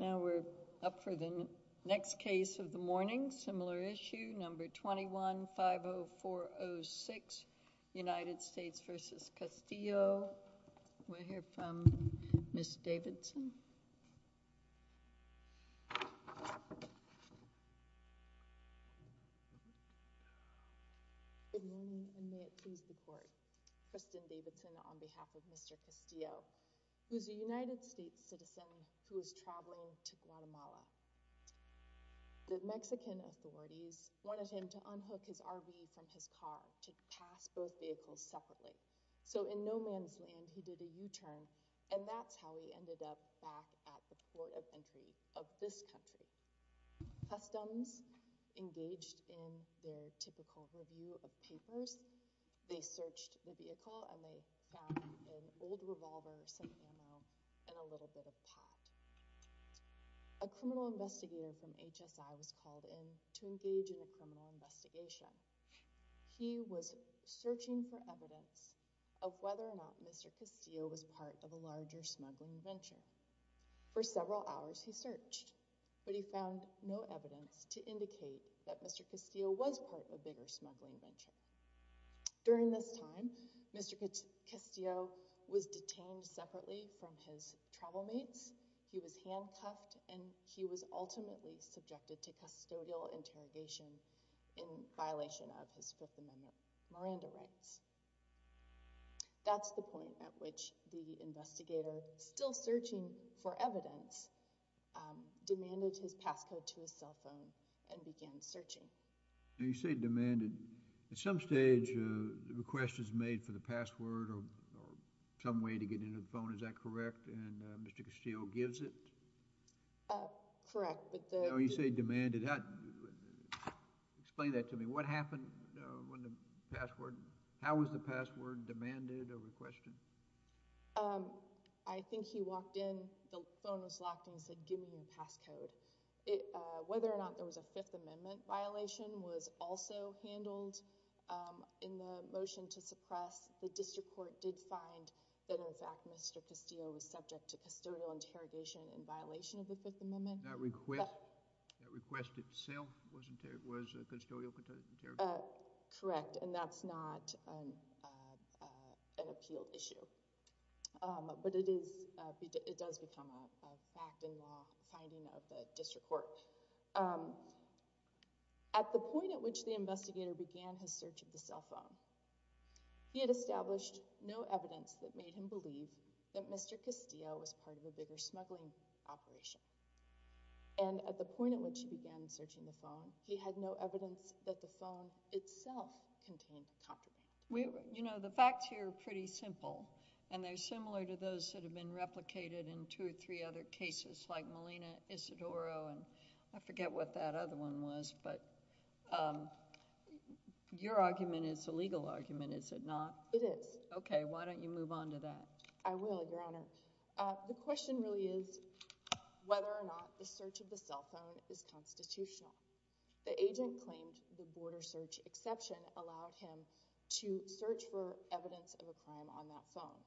Now we're up for the next case of the morning, similar issue, number 21-50406, United States v. Castillo. We'll hear from Ms. Davidson. Good morning, and may it please the Court. Kristen Davidson on behalf of Mr. Castillo, who's a United States citizen who is traveling to Guatemala. The Mexican authorities wanted him to unhook his RV from his car to pass both vehicles separately. So in no man's land, he did a U-turn, and that's how he ended up back at the port of entry of this country. Customs engaged in their typical review of papers. They searched the vehicle, and they found an old revolver, some ammo, and a little bit of pot. A criminal investigator from HSI was called in to engage in a criminal investigation. He was searching for evidence of whether or not Mr. Castillo was part of a larger smuggling venture. For several hours, he searched, but he found no evidence to indicate that Mr. Castillo was part of a bigger smuggling venture. During this time, Mr. Castillo was detained separately from his travel mates. He was handcuffed, and he was ultimately subjected to custodial interrogation in violation of his Fifth Amendment Miranda rights. That's the point at which the investigator, still searching for evidence, demanded his You say demanded. At some stage, the request was made for the password or some way to get into the phone. Is that correct? And Mr. Castillo gives it? Correct. No, you say demanded. Explain that to me. What happened when the password, how was the password demanded or requested? I think he walked in, the phone was locked, and said, give me your passcode. Whether or not it was a Fifth Amendment violation was also handled in the motion to suppress. The district court did find that in fact Mr. Castillo was subject to custodial interrogation in violation of the Fifth Amendment. That request itself was custodial interrogation? Correct, and that's not an appeal issue. But it does become a fact in law finding of the district court. At the point at which the investigator began his search of the cell phone, he had established no evidence that made him believe that Mr. Castillo was part of a bigger smuggling operation. And at the point at which he began searching the phone, he had no evidence that the phone itself contained contraband. You know, the facts here are pretty simple, and they're similar to those that have been replicated in two or three other cases, like Molina Isidoro, and I forget what that other one was, but your argument is a legal argument, is it not? It is. Okay, why don't you move on to that? I will, Your Honor. The question really is whether or not the search of the cell phone is constitutional. The agent claimed the border search exception allowed him to search for evidence of a crime on that phone.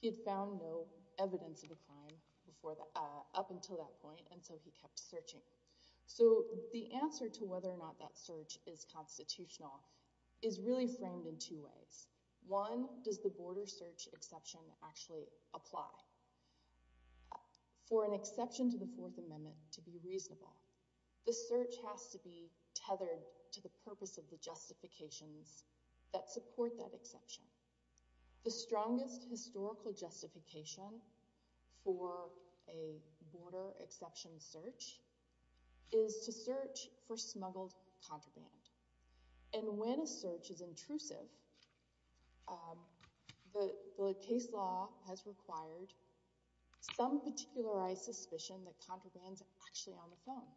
He had found no evidence of a crime up until that point, and so he kept searching. So the answer to whether or not that search is constitutional is really framed in two ways. One, does the border search exception actually apply? For an exception to the Fourth Amendment to be reasonable, the search has to be tethered to the purpose of the justifications that support that exception. The strongest historical justification for a border exception search is to search for smuggled contraband. And when a search is intrusive, the case law has required some particularized suspicion that contraband is actually on the phone.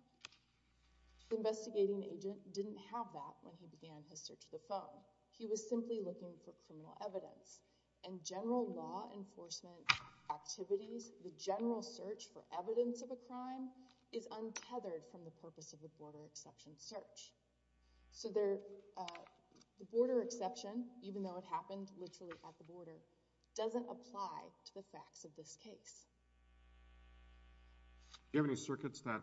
The investigating agent didn't have that when he began his search of the phone. He was simply looking for criminal evidence. In general law enforcement activities, the general search for evidence of a crime is So the border exception, even though it happened literally at the border, doesn't apply to the facts of this case. Do you have any circuits that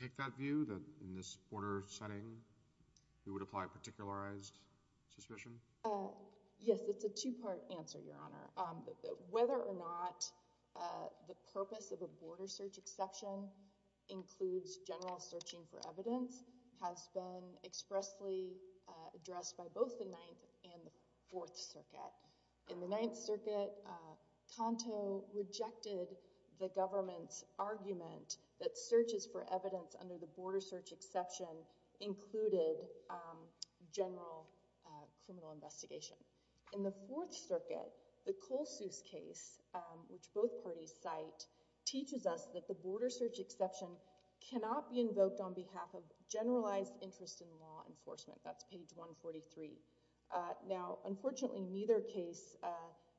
take that view, that in this border setting it would apply particularized suspicion? Yes, it's a two-part answer, Your Honor. Whether or not the purpose of a border search exception includes general searching for evidence has been expressly addressed by both the Ninth and the Fourth Circuit. In the Ninth Circuit, Canto rejected the government's argument that searches for evidence under the border search exception included general criminal investigation. In the Fourth Circuit, the Colesuse case, which both parties cite, teaches us that the border search exception cannot be invoked on behalf of generalized interest in law enforcement. That's page 143. Now, unfortunately, neither case,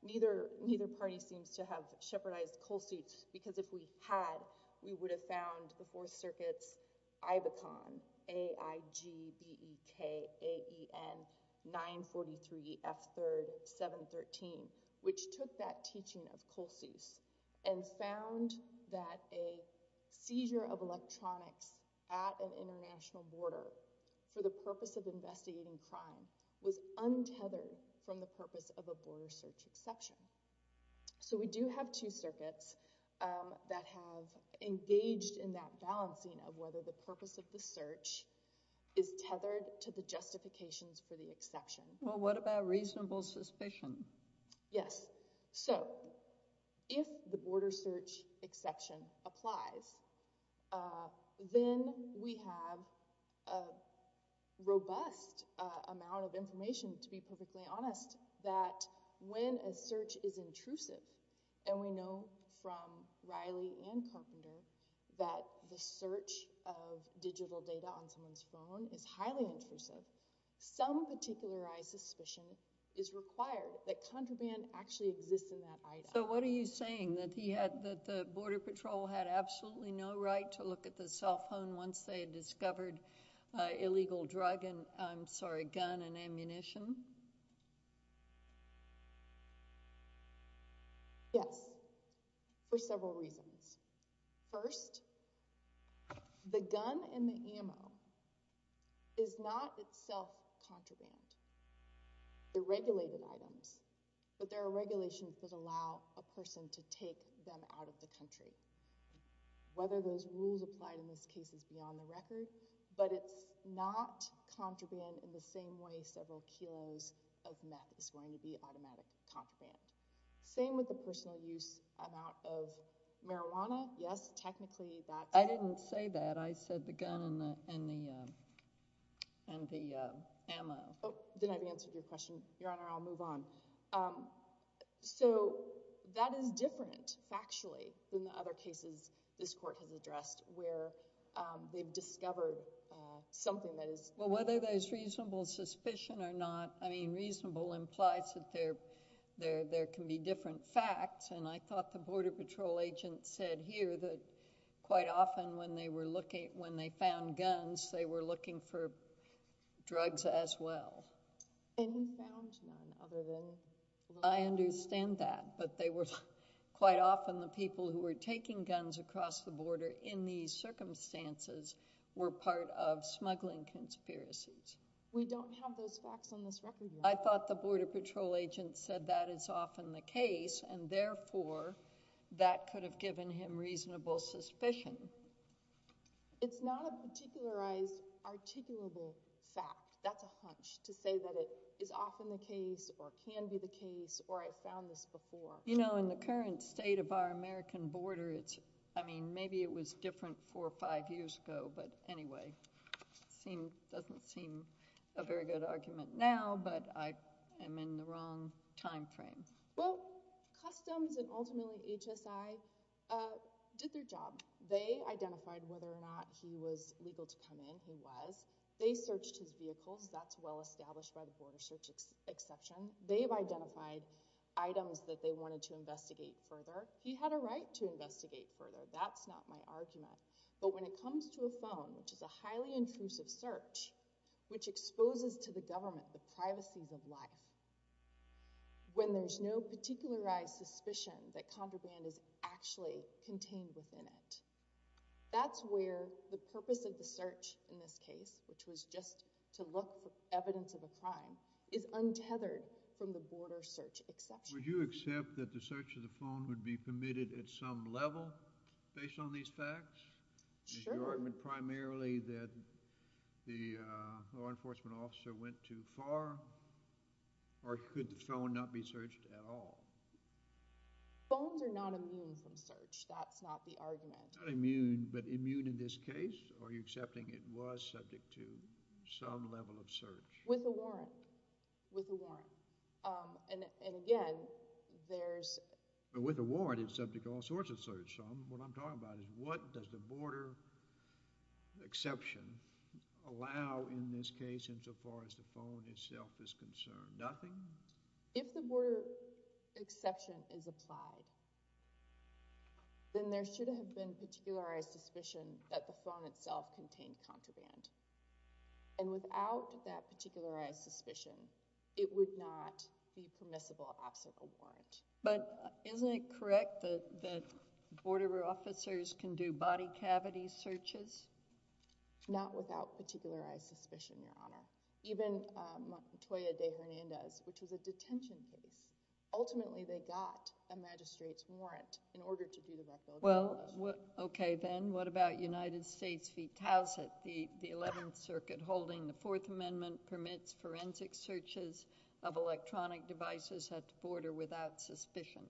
neither party seems to have shepherdized Colesuse, because if we had, we would have found the Fourth Circuit's IBECON, A-I-G-B-E-K-A-E-N-943-F-3-7-13, which took that teaching of Colesuse and found that a seizure of electronics at an international border for the purpose of investigating crime was untethered from the purpose of a border search exception. So we do have two circuits that have engaged in that balancing of whether the purpose of the search is tethered to the justifications for the exception. Well, what about reasonable suspicion? Yes. So, if the border search exception applies, then we have a robust amount of information, to be perfectly honest, that when a search is intrusive, and we know from Reilly and his suspicion, is required, that contraband actually exists in that item. So what are you saying? That he had, that the Border Patrol had absolutely no right to look at the cell phone once they had discovered illegal drug and, I'm sorry, gun and ammunition? Yes. For several reasons. First, the gun and the ammo is not itself contraband. They're regulated items, but there are regulations that allow a person to take them out of the country. Whether those rules apply in this case is beyond the record, but it's not contraband in the same way several kilos of meth is going to be automatic contraband. Same with the personal use amount of marijuana? Yes. Technically, that's... I didn't say that. I said the gun and the ammo. Oh, then I've answered your question. Your Honor, I'll move on. So, that is different, factually, than the other cases this Court has addressed where they've discovered something that is... Well, whether there's reasonable suspicion or not, I mean, reasonable implies that there's different facts, and I thought the Border Patrol agent said here that quite often when they found guns, they were looking for drugs as well. They found none other than... I understand that, but they were... Quite often, the people who were taking guns across the border in these circumstances were part of smuggling conspiracies. We don't have those facts on this record yet. I thought the Border Patrol agent said that is often the case, and therefore, that could have given him reasonable suspicion. It's not a particularized, articulable fact. That's a hunch, to say that it is often the case or can be the case or I found this before. You know, in the current state of our American border, it's... I mean, maybe it was different four or five years ago, but anyway, doesn't seem a very good argument now, but I am in the wrong time frame. Well, Customs and ultimately HSI did their job. They identified whether or not he was legal to come in. He was. They searched his vehicles. That's well established by the border search exception. They've identified items that they wanted to investigate further. He had a right to investigate further. That's not my argument, but when it comes to a phone, which is a highly intrusive search, which exposes to the government the privacies of life, when there's no particularized suspicion that contraband is actually contained within it, that's where the purpose of the search in this case, which was just to look for evidence of a crime, is untethered from the border search exception. Would you accept that the search of the phone would be permitted at some level based on these facts? Sure. Is the argument primarily that the law enforcement officer went too far, or could the phone not be searched at all? Phones are not immune from search. That's not the argument. Not immune, but immune in this case? Or are you accepting it was subject to some level of search? With a warrant. With a warrant. And again, there's... With a warrant, it's subject to all sorts of search. What I'm talking about is, what does the border exception allow in this case insofar as the phone itself is concerned? Nothing? If the border exception is applied, then there should have been particularized suspicion that the phone itself contained contraband. And without that particularized suspicion, it would not be permissible absent a warrant. But isn't it correct that border officers can do body cavity searches? Not without particularized suspicion, Your Honor. Even Montoya de Hernandez, which is a detention place, ultimately they got a magistrate's warrant in order to do that. Well, okay then, what about United States v. Towsett? The 11th Circuit holding the Fourth Amendment permits forensic searches of electronic devices at the border without suspicion.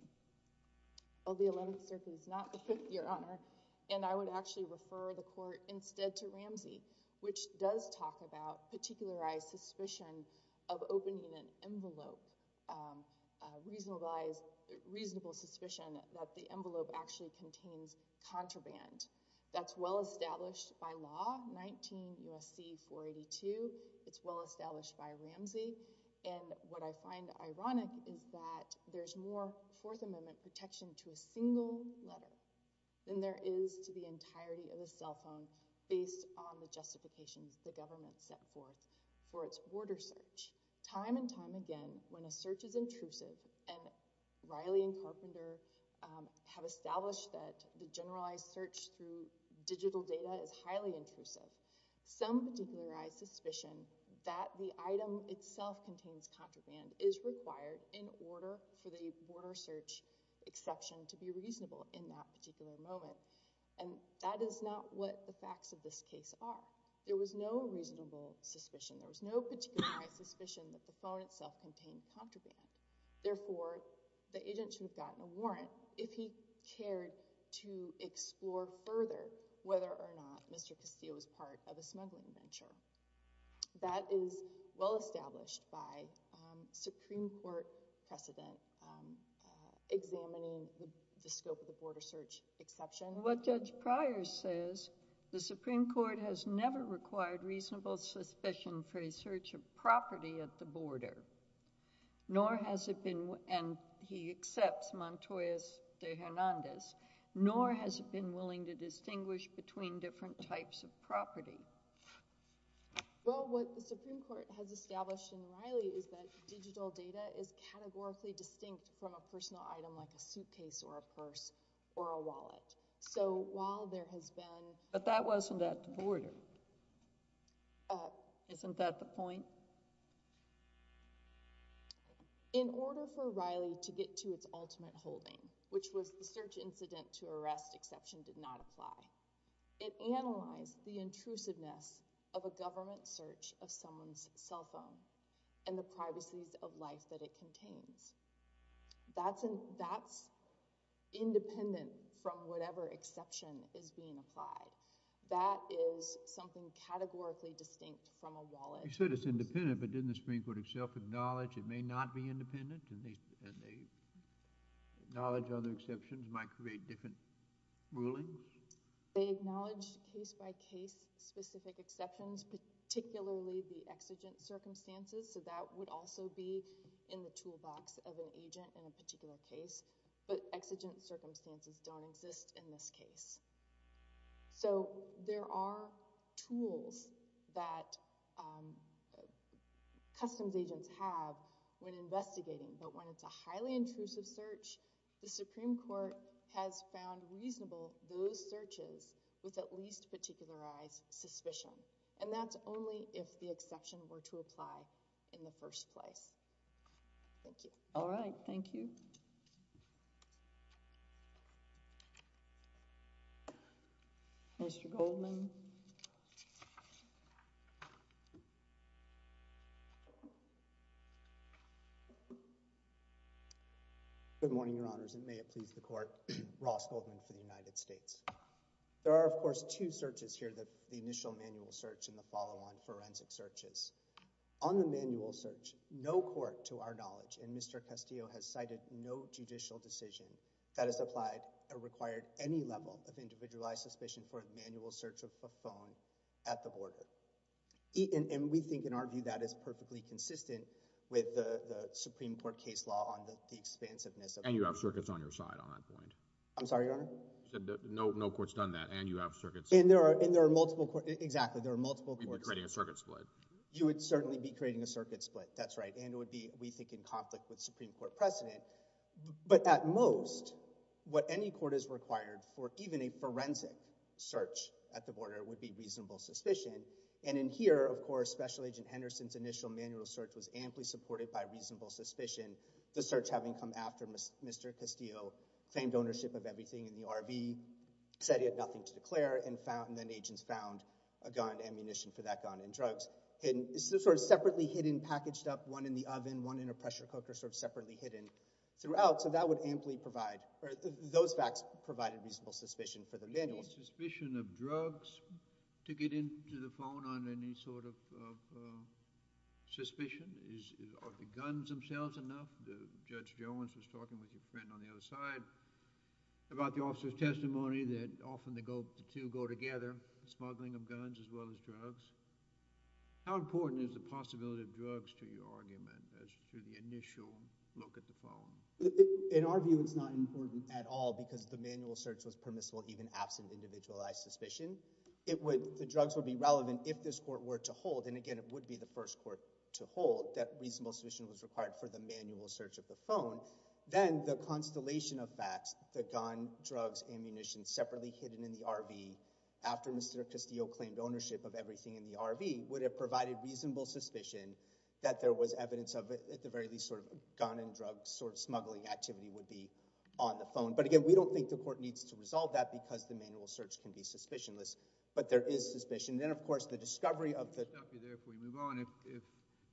Oh, the 11th Circuit is not the Fifth, Your Honor. And I would actually refer the Court instead to Ramsey, which does talk about particularized suspicion of opening an envelope. Reasonable suspicion that the envelope actually contains contraband. That's well established by law, 19 U.S.C. 482. It's well established by Ramsey. And what I find ironic is that there's more Fourth Amendment protection to a single letter than there is to the entirety of a cell phone based on the justifications the government set forth for its border search. Time and time again, when a search is intrusive, and Riley and Carpenter have established that the generalized search through digital data is highly intrusive, some particularized suspicion that the item itself contains contraband is required in order for the border search exception to be reasonable in that particular moment. And that is not what the facts of this case are. There was no reasonable suspicion. There was no particularized suspicion that the phone itself contained contraband. Therefore, the agent should have gotten a warrant if he cared to explore further whether or not Mr. Castillo was part of a smuggling venture. That is well established by Supreme Court precedent examining the scope of the border search exception. What Judge Pryor says, the Supreme Court has never required reasonable suspicion for a search of property at the border, nor has it been, and he accepts Montoyas de Hernandez, nor has it been willing to distinguish between different types of property. Well, what the Supreme Court has established in Riley is that digital data is categorically distinct from a personal item like a suitcase or a purse or a wallet. So, while there has been... Isn't that the point? In order for Riley to get to its ultimate holding, which was the search incident to arrest exception did not apply, it analyzed the intrusiveness of a government search of someone's cell phone and the privacies of life that it contains. That's independent from whatever exception is being applied. That is something categorically distinct from a wallet. You said it's independent, but didn't the Supreme Court itself acknowledge it may not be independent and they acknowledge other exceptions might create different rulings? They acknowledge case-by-case specific exceptions, particularly the exigent circumstances, so that would also be in the toolbox of an agent in a particular case, but exigent circumstances don't exist in this case. So, there are tools that customs agents have when investigating, but when it's a highly intrusive search, the Supreme Court has found reasonable those searches with at least particularized suspicion, and that's only if the exception were to apply in the first place. Thank you. All right. Thank you. Mr. Goldman. Good morning, Your Honors, and may it please the Court, Ross Goldman for the United States. There are, of course, two searches here, the initial manual search and the follow-on forensic searches. On the manual search, no court to our knowledge in Mr. Castillo has cited no judicial decision that has applied or required any level of individualized suspicion for a manual search of a phone at the border. And we think, in our view, that is perfectly consistent with the Supreme Court case law on the expansiveness of— And you have circuits on your side on that point. I'm sorry, Your Honor? No court's done that, and you have circuits. And there are multiple—exactly, there are multiple courts. You'd be creating a circuit split. You would certainly be creating a circuit split, that's right, and it would be, we think, in conflict with Supreme Court precedent, but at most, what any court is required for, even a forensic search at the border, would be reasonable suspicion. And in here, of course, Special Agent Henderson's initial manual search was amply supported by reasonable suspicion, the search having come after Mr. Castillo, claimed ownership of everything in the RV, said he had nothing to declare, and then agents found a gun, ammunition for that gun, and drugs. It's sort of separately hidden, packaged up, one in the oven, one in a pressure cooker, they're sort of separately hidden throughout, so that would amply provide, or those facts provided reasonable suspicion for the manual. Is suspicion of drugs to get into the phone on any sort of suspicion? Are the guns themselves enough? Judge Jones was talking with your friend on the other side about the officer's testimony that often the two go together, smuggling of guns as well as drugs. How important is the possibility of drugs to your argument as to the initial look at the phone? In our view, it's not important at all because the manual search was permissible even absent individualized suspicion. The drugs would be relevant if this court were to hold, and again, it would be the first court to hold, that reasonable suspicion was required for the manual search of the phone. Then the constellation of facts, the gun, drugs, ammunition separately hidden in the RV, after Mr. Castillo claimed ownership of everything in the RV, would have provided reasonable suspicion that there was evidence of, at the very least, a gun and drug smuggling activity would be on the phone. But again, we don't think the court needs to resolve that because the manual search can be suspicionless, but there is suspicion. Then, of course, the discovery of the— If we move on,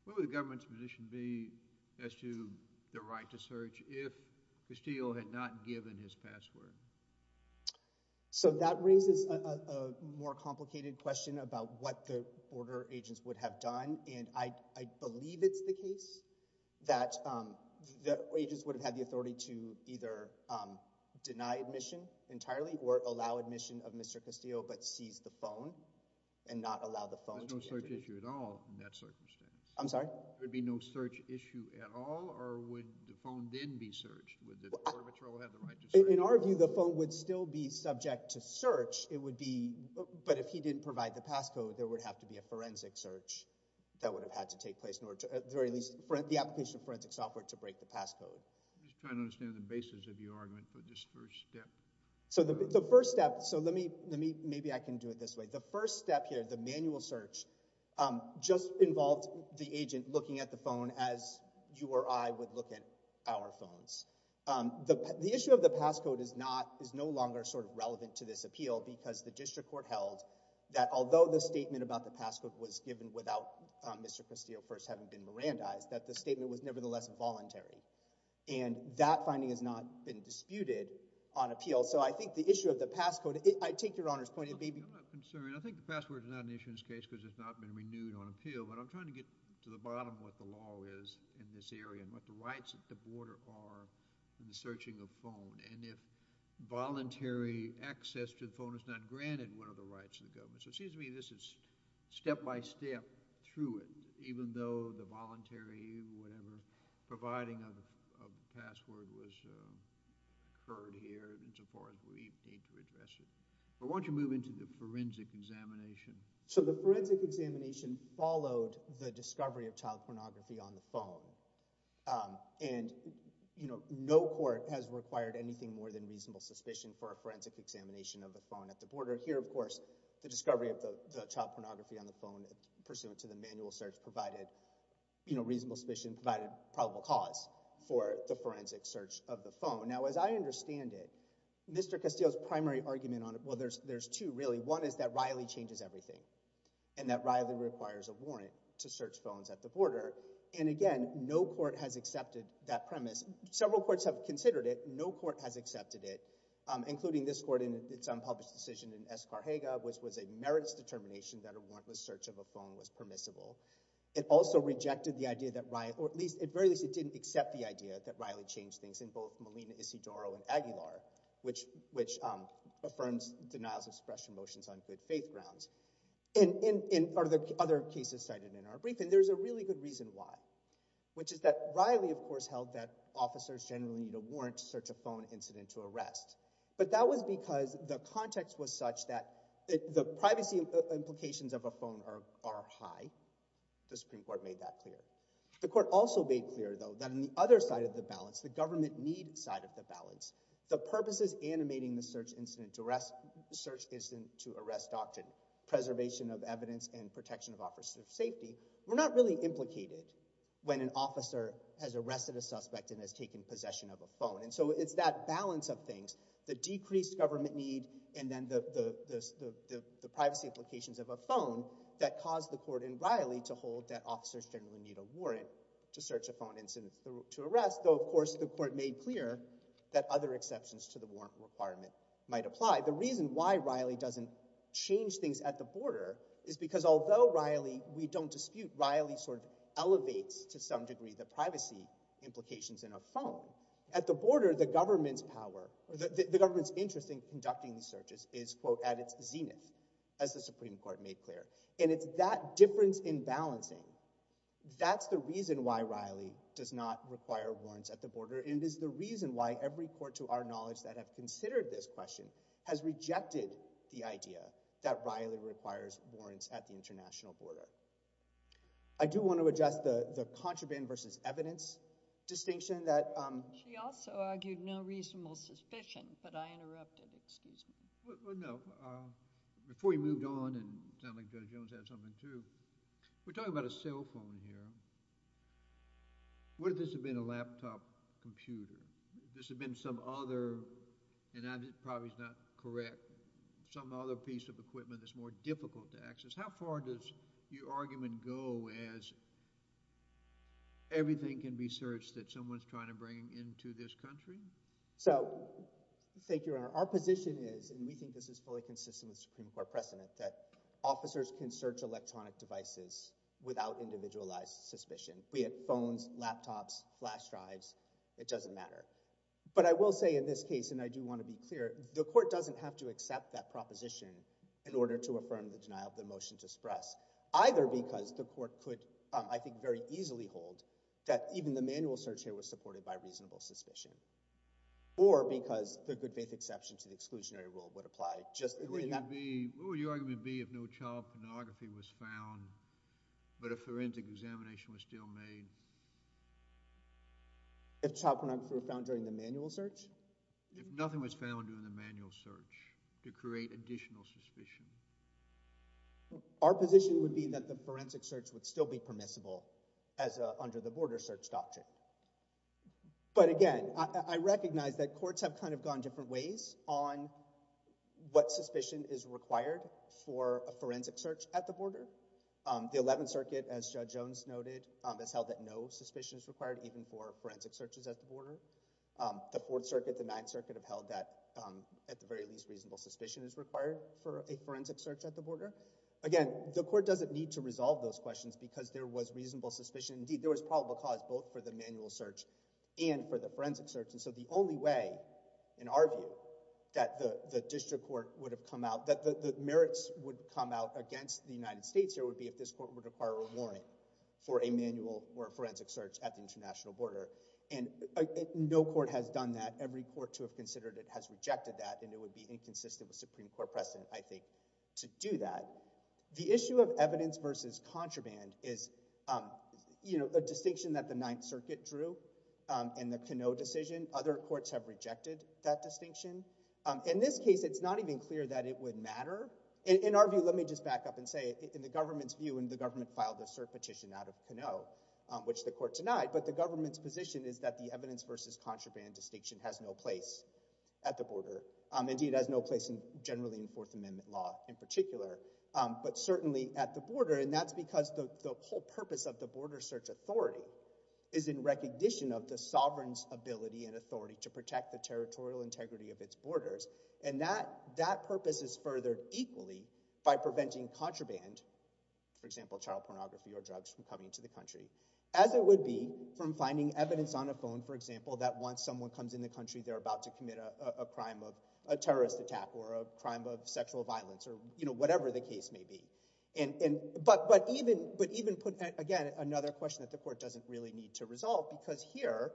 what would the government's position be as to the right to search if Castillo had not given his password? That raises a more complicated question about what the order agents would have done, and I believe it's the case that agents would have had the authority to either deny admission entirely, or allow admission of Mr. Castillo, but seize the phone, and not allow the phone to be— There's no search issue at all in that circumstance. I'm sorry? There would be no search issue at all, or would the phone then be searched? In our view, the phone would still be subject to search, but if he didn't provide the passcode, there would have to be a forensic search. That would have had to take place, or at least the application of forensic software to break the passcode. I'm just trying to understand the basis of your argument for this first step. Maybe I can do it this way. The first step here, the manual search, just involved the agent looking at the phone as you or I would look at our phones. The issue of the passcode is no longer relevant to this appeal because the district court held that although the statement about the passcode was given without Mr. Castillo first having been Mirandized, that the statement was nevertheless voluntary. And that finding has not been disputed on appeal. So I think the issue of the passcode— I take Your Honor's point— I think the password is not an issue in this case because it's not been renewed on appeal, but I'm trying to get to the bottom of what the law is in this area and what the rights at the border are in the searching of phone. And if voluntary access to the phone is not granted, what are the rights of the government? So it seems to me this is step-by-step through it, even though the voluntary, whatever, providing of the password was heard here insofar as we need to address it. Why don't you move into the forensic examination? So the forensic examination followed the discovery of child pornography on the phone. And, you know, no court has required anything more than reasonable suspicion for a forensic examination of the phone at the border. Here, of course, the discovery of the child pornography on the phone pursuant to the manual search provided reasonable suspicion, provided probable cause for the forensic search of the phone. Now, as I understand it, Mr. Castillo's primary argument on it— well, there's two, really. One is that Riley changes everything and that Riley requires a warrant to search phones at the border. And again, no court has accepted that premise. Several courts have considered it. No court has accepted it, including this court in its unpublished decision in Escargega, which was a merits determination that a warrantless search of a phone was permissible. It also rejected the idea that Riley— or at least, at the very least, it didn't accept the idea that Riley changed things in both Molina Isidoro and Aguilar, which affirms denials of suppression motions on good faith grounds. And in other cases cited in our briefing, which is that Riley, of course, held that officers generally need a warrant to search a phone incident to arrest. But that was because the context was such that the privacy implications of a phone are high. The Supreme Court made that clear. The court also made clear, though, that on the other side of the balance, the government-need side of the balance, the purposes animating the search incident to arrest doctrine, preservation of evidence and protection of officers' safety, were not really implicated when an officer has arrested a suspect and has taken possession of a phone. And so it's that balance of things— the decreased government need and then the privacy implications of a phone—that caused the court in Riley to hold that officers generally need a warrant to search a phone incident to arrest, though, of course, the court made clear that other exceptions to the warrant requirement might apply. The reason why Riley doesn't change things at the border is because although Riley—we don't dispute— Riley sort of elevates to some degree the privacy implications in a phone, at the border, the government's power— the government's interest in conducting the searches is, quote, at its zenith, as the Supreme Court made clear. And it's that difference in balancing— that's the reason why Riley does not require warrants at the border, and it is the reason why every court to our knowledge that have considered this question has rejected the idea that Riley requires warrants at the international border. I do want to address the contraband versus evidence distinction that— She also argued no reasonable suspicion, but I interrupted. Excuse me. Well, no. Before you moved on, and it sounded like Judge Jones had something, too, we're talking about a cell phone here. What if this had been a laptop computer? If this had been some other—and that probably is not correct—some other piece of equipment that's more difficult to access? How far does your argument go as everything can be searched that someone's trying to bring into this country? So, thank you, Your Honor. Our position is, and we think this is fully consistent with the Supreme Court precedent, that officers can search electronic devices without individualized suspicion, be it phones, laptops, flash drives, it doesn't matter. But I will say in this case, and I do want to be clear, the court doesn't have to accept that proposition in order to affirm the denial of the motion to express, either because the court could, I think, very easily hold that even the manual search here was supported by reasonable suspicion, or because the good faith exception to the exclusionary rule would apply. What would your argument be if no child pornography was found, but a forensic examination was still made? If child pornography were found during the manual search? If nothing was found during the manual search to create additional suspicion. Our position would be that the forensic search would still be permissible as an under-the-border search doctrine. But again, I recognize that courts have kind of gone different ways on what suspicion is required for a forensic search at the border. The 11th Circuit, as Judge Jones noted, has held that no suspicion is required, even for forensic searches at the border. The 4th Circuit, the 9th Circuit, have held that, at the very least, reasonable suspicion is required for a forensic search at the border. Again, the court doesn't need to resolve those questions because there was reasonable suspicion. Indeed, there was probable cause both for the manual search and for the forensic search. And so the only way in our view that the district court would have come out that the merits would come out against the United States here would be if this court would require a warrant for a manual or a forensic search at the international border. And no court has done that. Every court to have considered it has rejected that, and it would be inconsistent with Supreme Court precedent, I think, to do that. The issue of evidence versus contraband is a distinction that the 9th Circuit drew in the Canot decision. Other courts have rejected that distinction. In this case, it's not even clear that it would matter. In our view, let me just back up and say, in the government's view, and the government filed the cert petition out of Canot, which the court denied, but the government's position is that the evidence versus contraband distinction has no place at the border. Indeed, it has no place generally in Fourth Amendment law in particular, but certainly at the border, and that's because the whole purpose of the border search authority is in recognition of the sovereign's ability and authority to protect the territorial integrity of its borders, and that purpose is further equally by preventing contraband, for example, child pornography or drugs, from coming to the country as it would be from finding evidence on a phone, for example, that once someone comes in the country, they're about to commit a crime of a terrorist attack or a crime of sexual violence or, you know, whatever the case may be. But even, again, another question that the court doesn't really need to resolve, because here,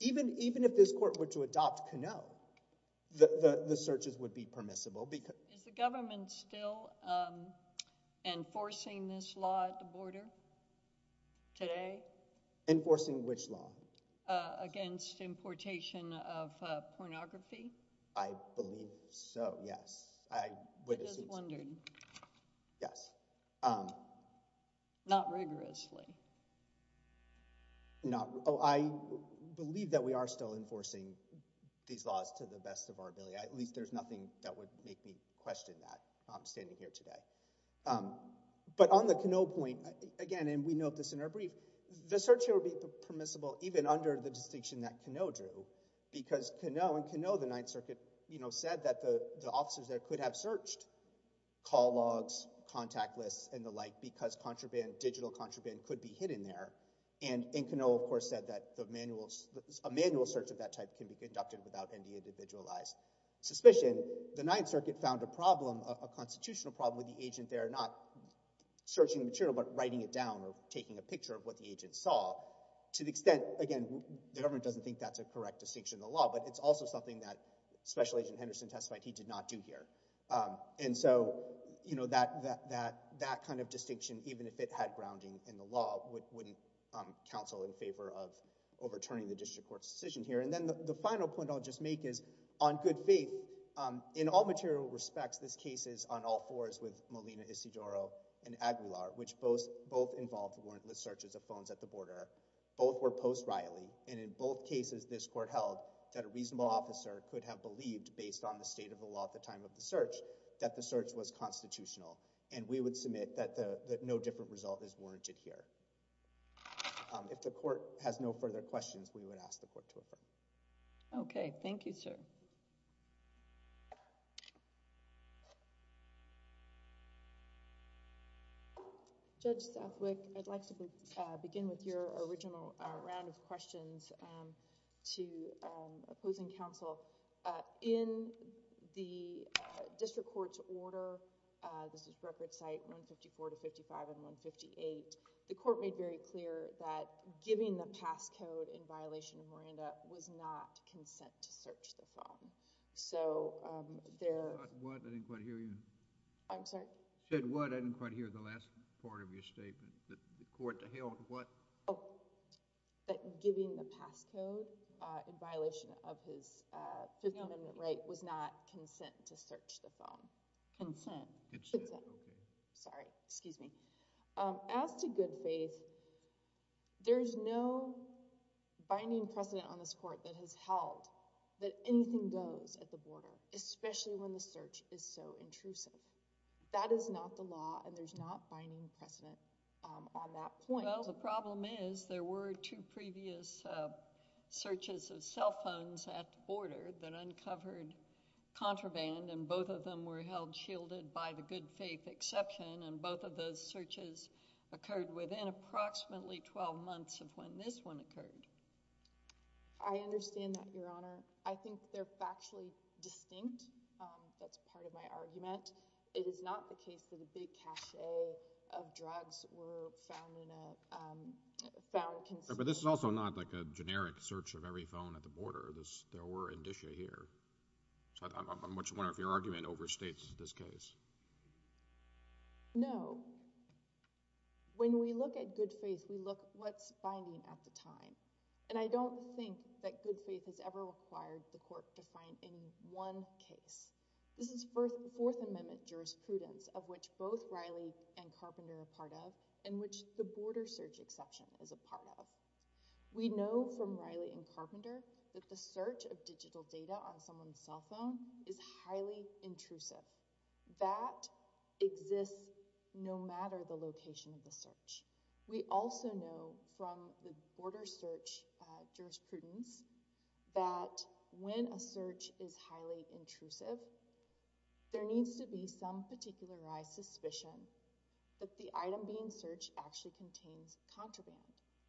even if this court were to adopt Canot, the searches would be permissible. Is the government still enforcing this law at the border today? Enforcing which law? Against importation of pornography? I believe so, yes. I would assume so. Yes. Not rigorously. I believe that we are still enforcing these laws to the best of our ability. At least there's nothing that would make me question that standing here today. But on the Canot point, again, and we note this in our brief, the search here would be permissible even under the distinction that Canot drew, because Canot, in Canot the Ninth Circuit, you know, said that the officers there could have searched call logs, contact lists, and the like, because contraband, digital contraband, could be hidden there. And Canot, of course, said that the manuals, a manual search of that type can be conducted without any individualized suspicion. The Ninth Circuit found a problem, a constitutional problem with the agent there not searching the material, but writing it down or taking a picture of what the agent saw. To the extent, again, the government doesn't think that's a correct distinction in the law, but it's also something that Special Agent Henderson testified he did not do here. And so, you know, that kind of distinction, even if it had grounding in the law, wouldn't counsel in favor of overturning the District Court's decision here. And then the final point I'll just make is, on good faith, in all material respects, this court has no further questions. Thank you. Riley. Thank you, Mr. Cedaro and Aguilar, which both involved warrantless searches of phones at the border. Both were post-Riley, and in both cases this court held that a reasonable officer could have believed, based on the state of the law at the time of the search, that the search was constitutional, and we would submit that no different result is warranted here. If the court has no further questions, we would ask the court to affirm. Okay. Thank you, sir. Judge Stathwick, I'd like to begin with your original round of questions to opposing counsel. In the District Court's order, this is reference site 154 to 55 and 158, the court made very clear that giving the passcode in violation of Miranda was not consent to search the phone. So there... What? I didn't quite hear you. I'm sorry? You said what? I didn't quite hear the last part of your statement. The court held what? Oh, that giving the passcode in violation of his Fifth Amendment right was not consent to search the phone. Consent. Consent. Okay. Sorry. Excuse me. As to good faith, there's no binding precedent on this court that has held that anything goes at the border, especially when the search is so intrusive. That is not the law, and there's not binding precedent on that point. Well, the problem is there were two previous searches of cell phones at the border that uncovered contraband, and both of them were held shielded by the good faith exception, and both of those searches occurred within approximately 12 months of when this one occurred. I understand that, Your Honor. I think they're factually distinct. That's part of my argument. It is not the case that a big cache of drugs were found in a... found... But this is also not like a generic search of every phone at the border. There were indicia here. I'm just wondering if your argument overstates this case. No. When we look at good faith, we look at what's binding at the time, and I don't think that good faith has ever required the court to find in one case. This is Fourth Amendment jurisprudence, of which both Riley and Carpenter are part of, and which the border search exception is a part of. We know from Riley and Carpenter that the search of digital data on someone's cell phone is highly intrusive. That exists no matter the location of the search. We also know from the border search jurisprudence that when a search is highly intrusive, there needs to be some particularized suspicion that the item being searched actually contains contraband.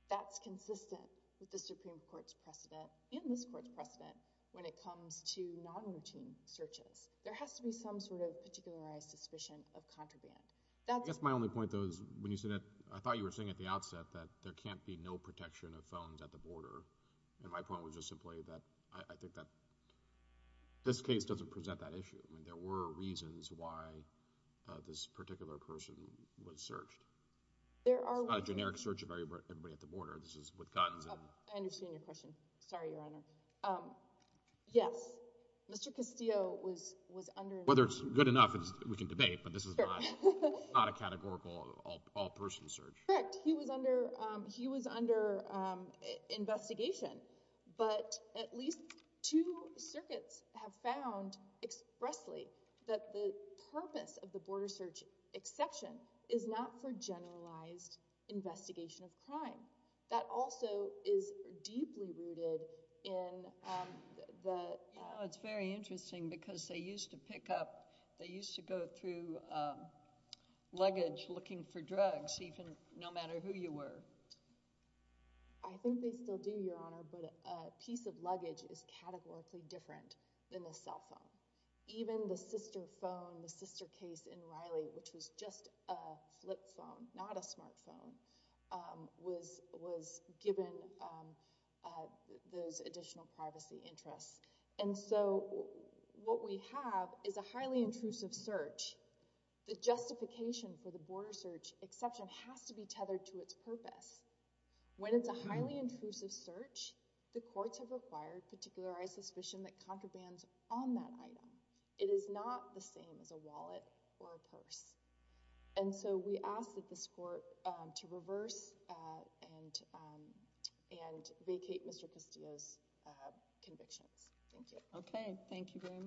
That's consistent with the Supreme Court's precedent and this Court's precedent when it comes to non-routine searches. There has to be some sort of particularized suspicion of contraband. That's my only point, though. I thought you were saying at the outset that there can't be no protection of phones at the border. My point was just simply that I think that this case doesn't present that issue. There were reasons why this particular person was searched. It's not a generic search of everybody at the border. This is with guns. I understand your question. Sorry, Your Honor. Yes. Mr. Castillo was under investigation. Whether it's good enough, we can debate, but this is not a categorical all-person search. Correct. He was under investigation, but at least two circuits have found expressly that the purpose of the border search exception is not for identification of crime. That also is deeply rooted in the— It's very interesting because they used to pick up—they used to go through luggage looking for drugs, no matter who you were. I think they still do, Your Honor, but a piece of luggage is categorically different than a cell phone. Even the sister phone, the sister case in Riley, which was just a flip phone, not a smart phone, was given those additional privacy interests. And so what we have is a highly intrusive search. The justification for the border search exception has to be tethered to its purpose. When it's a highly intrusive search, the courts have required particularized suspicion that contrabands on that item. It is not the same as a wallet or a purse. And so we ask that this court to reverse and vacate Mr. Castillo's convictions. Thank you. Okay. Thank you very much.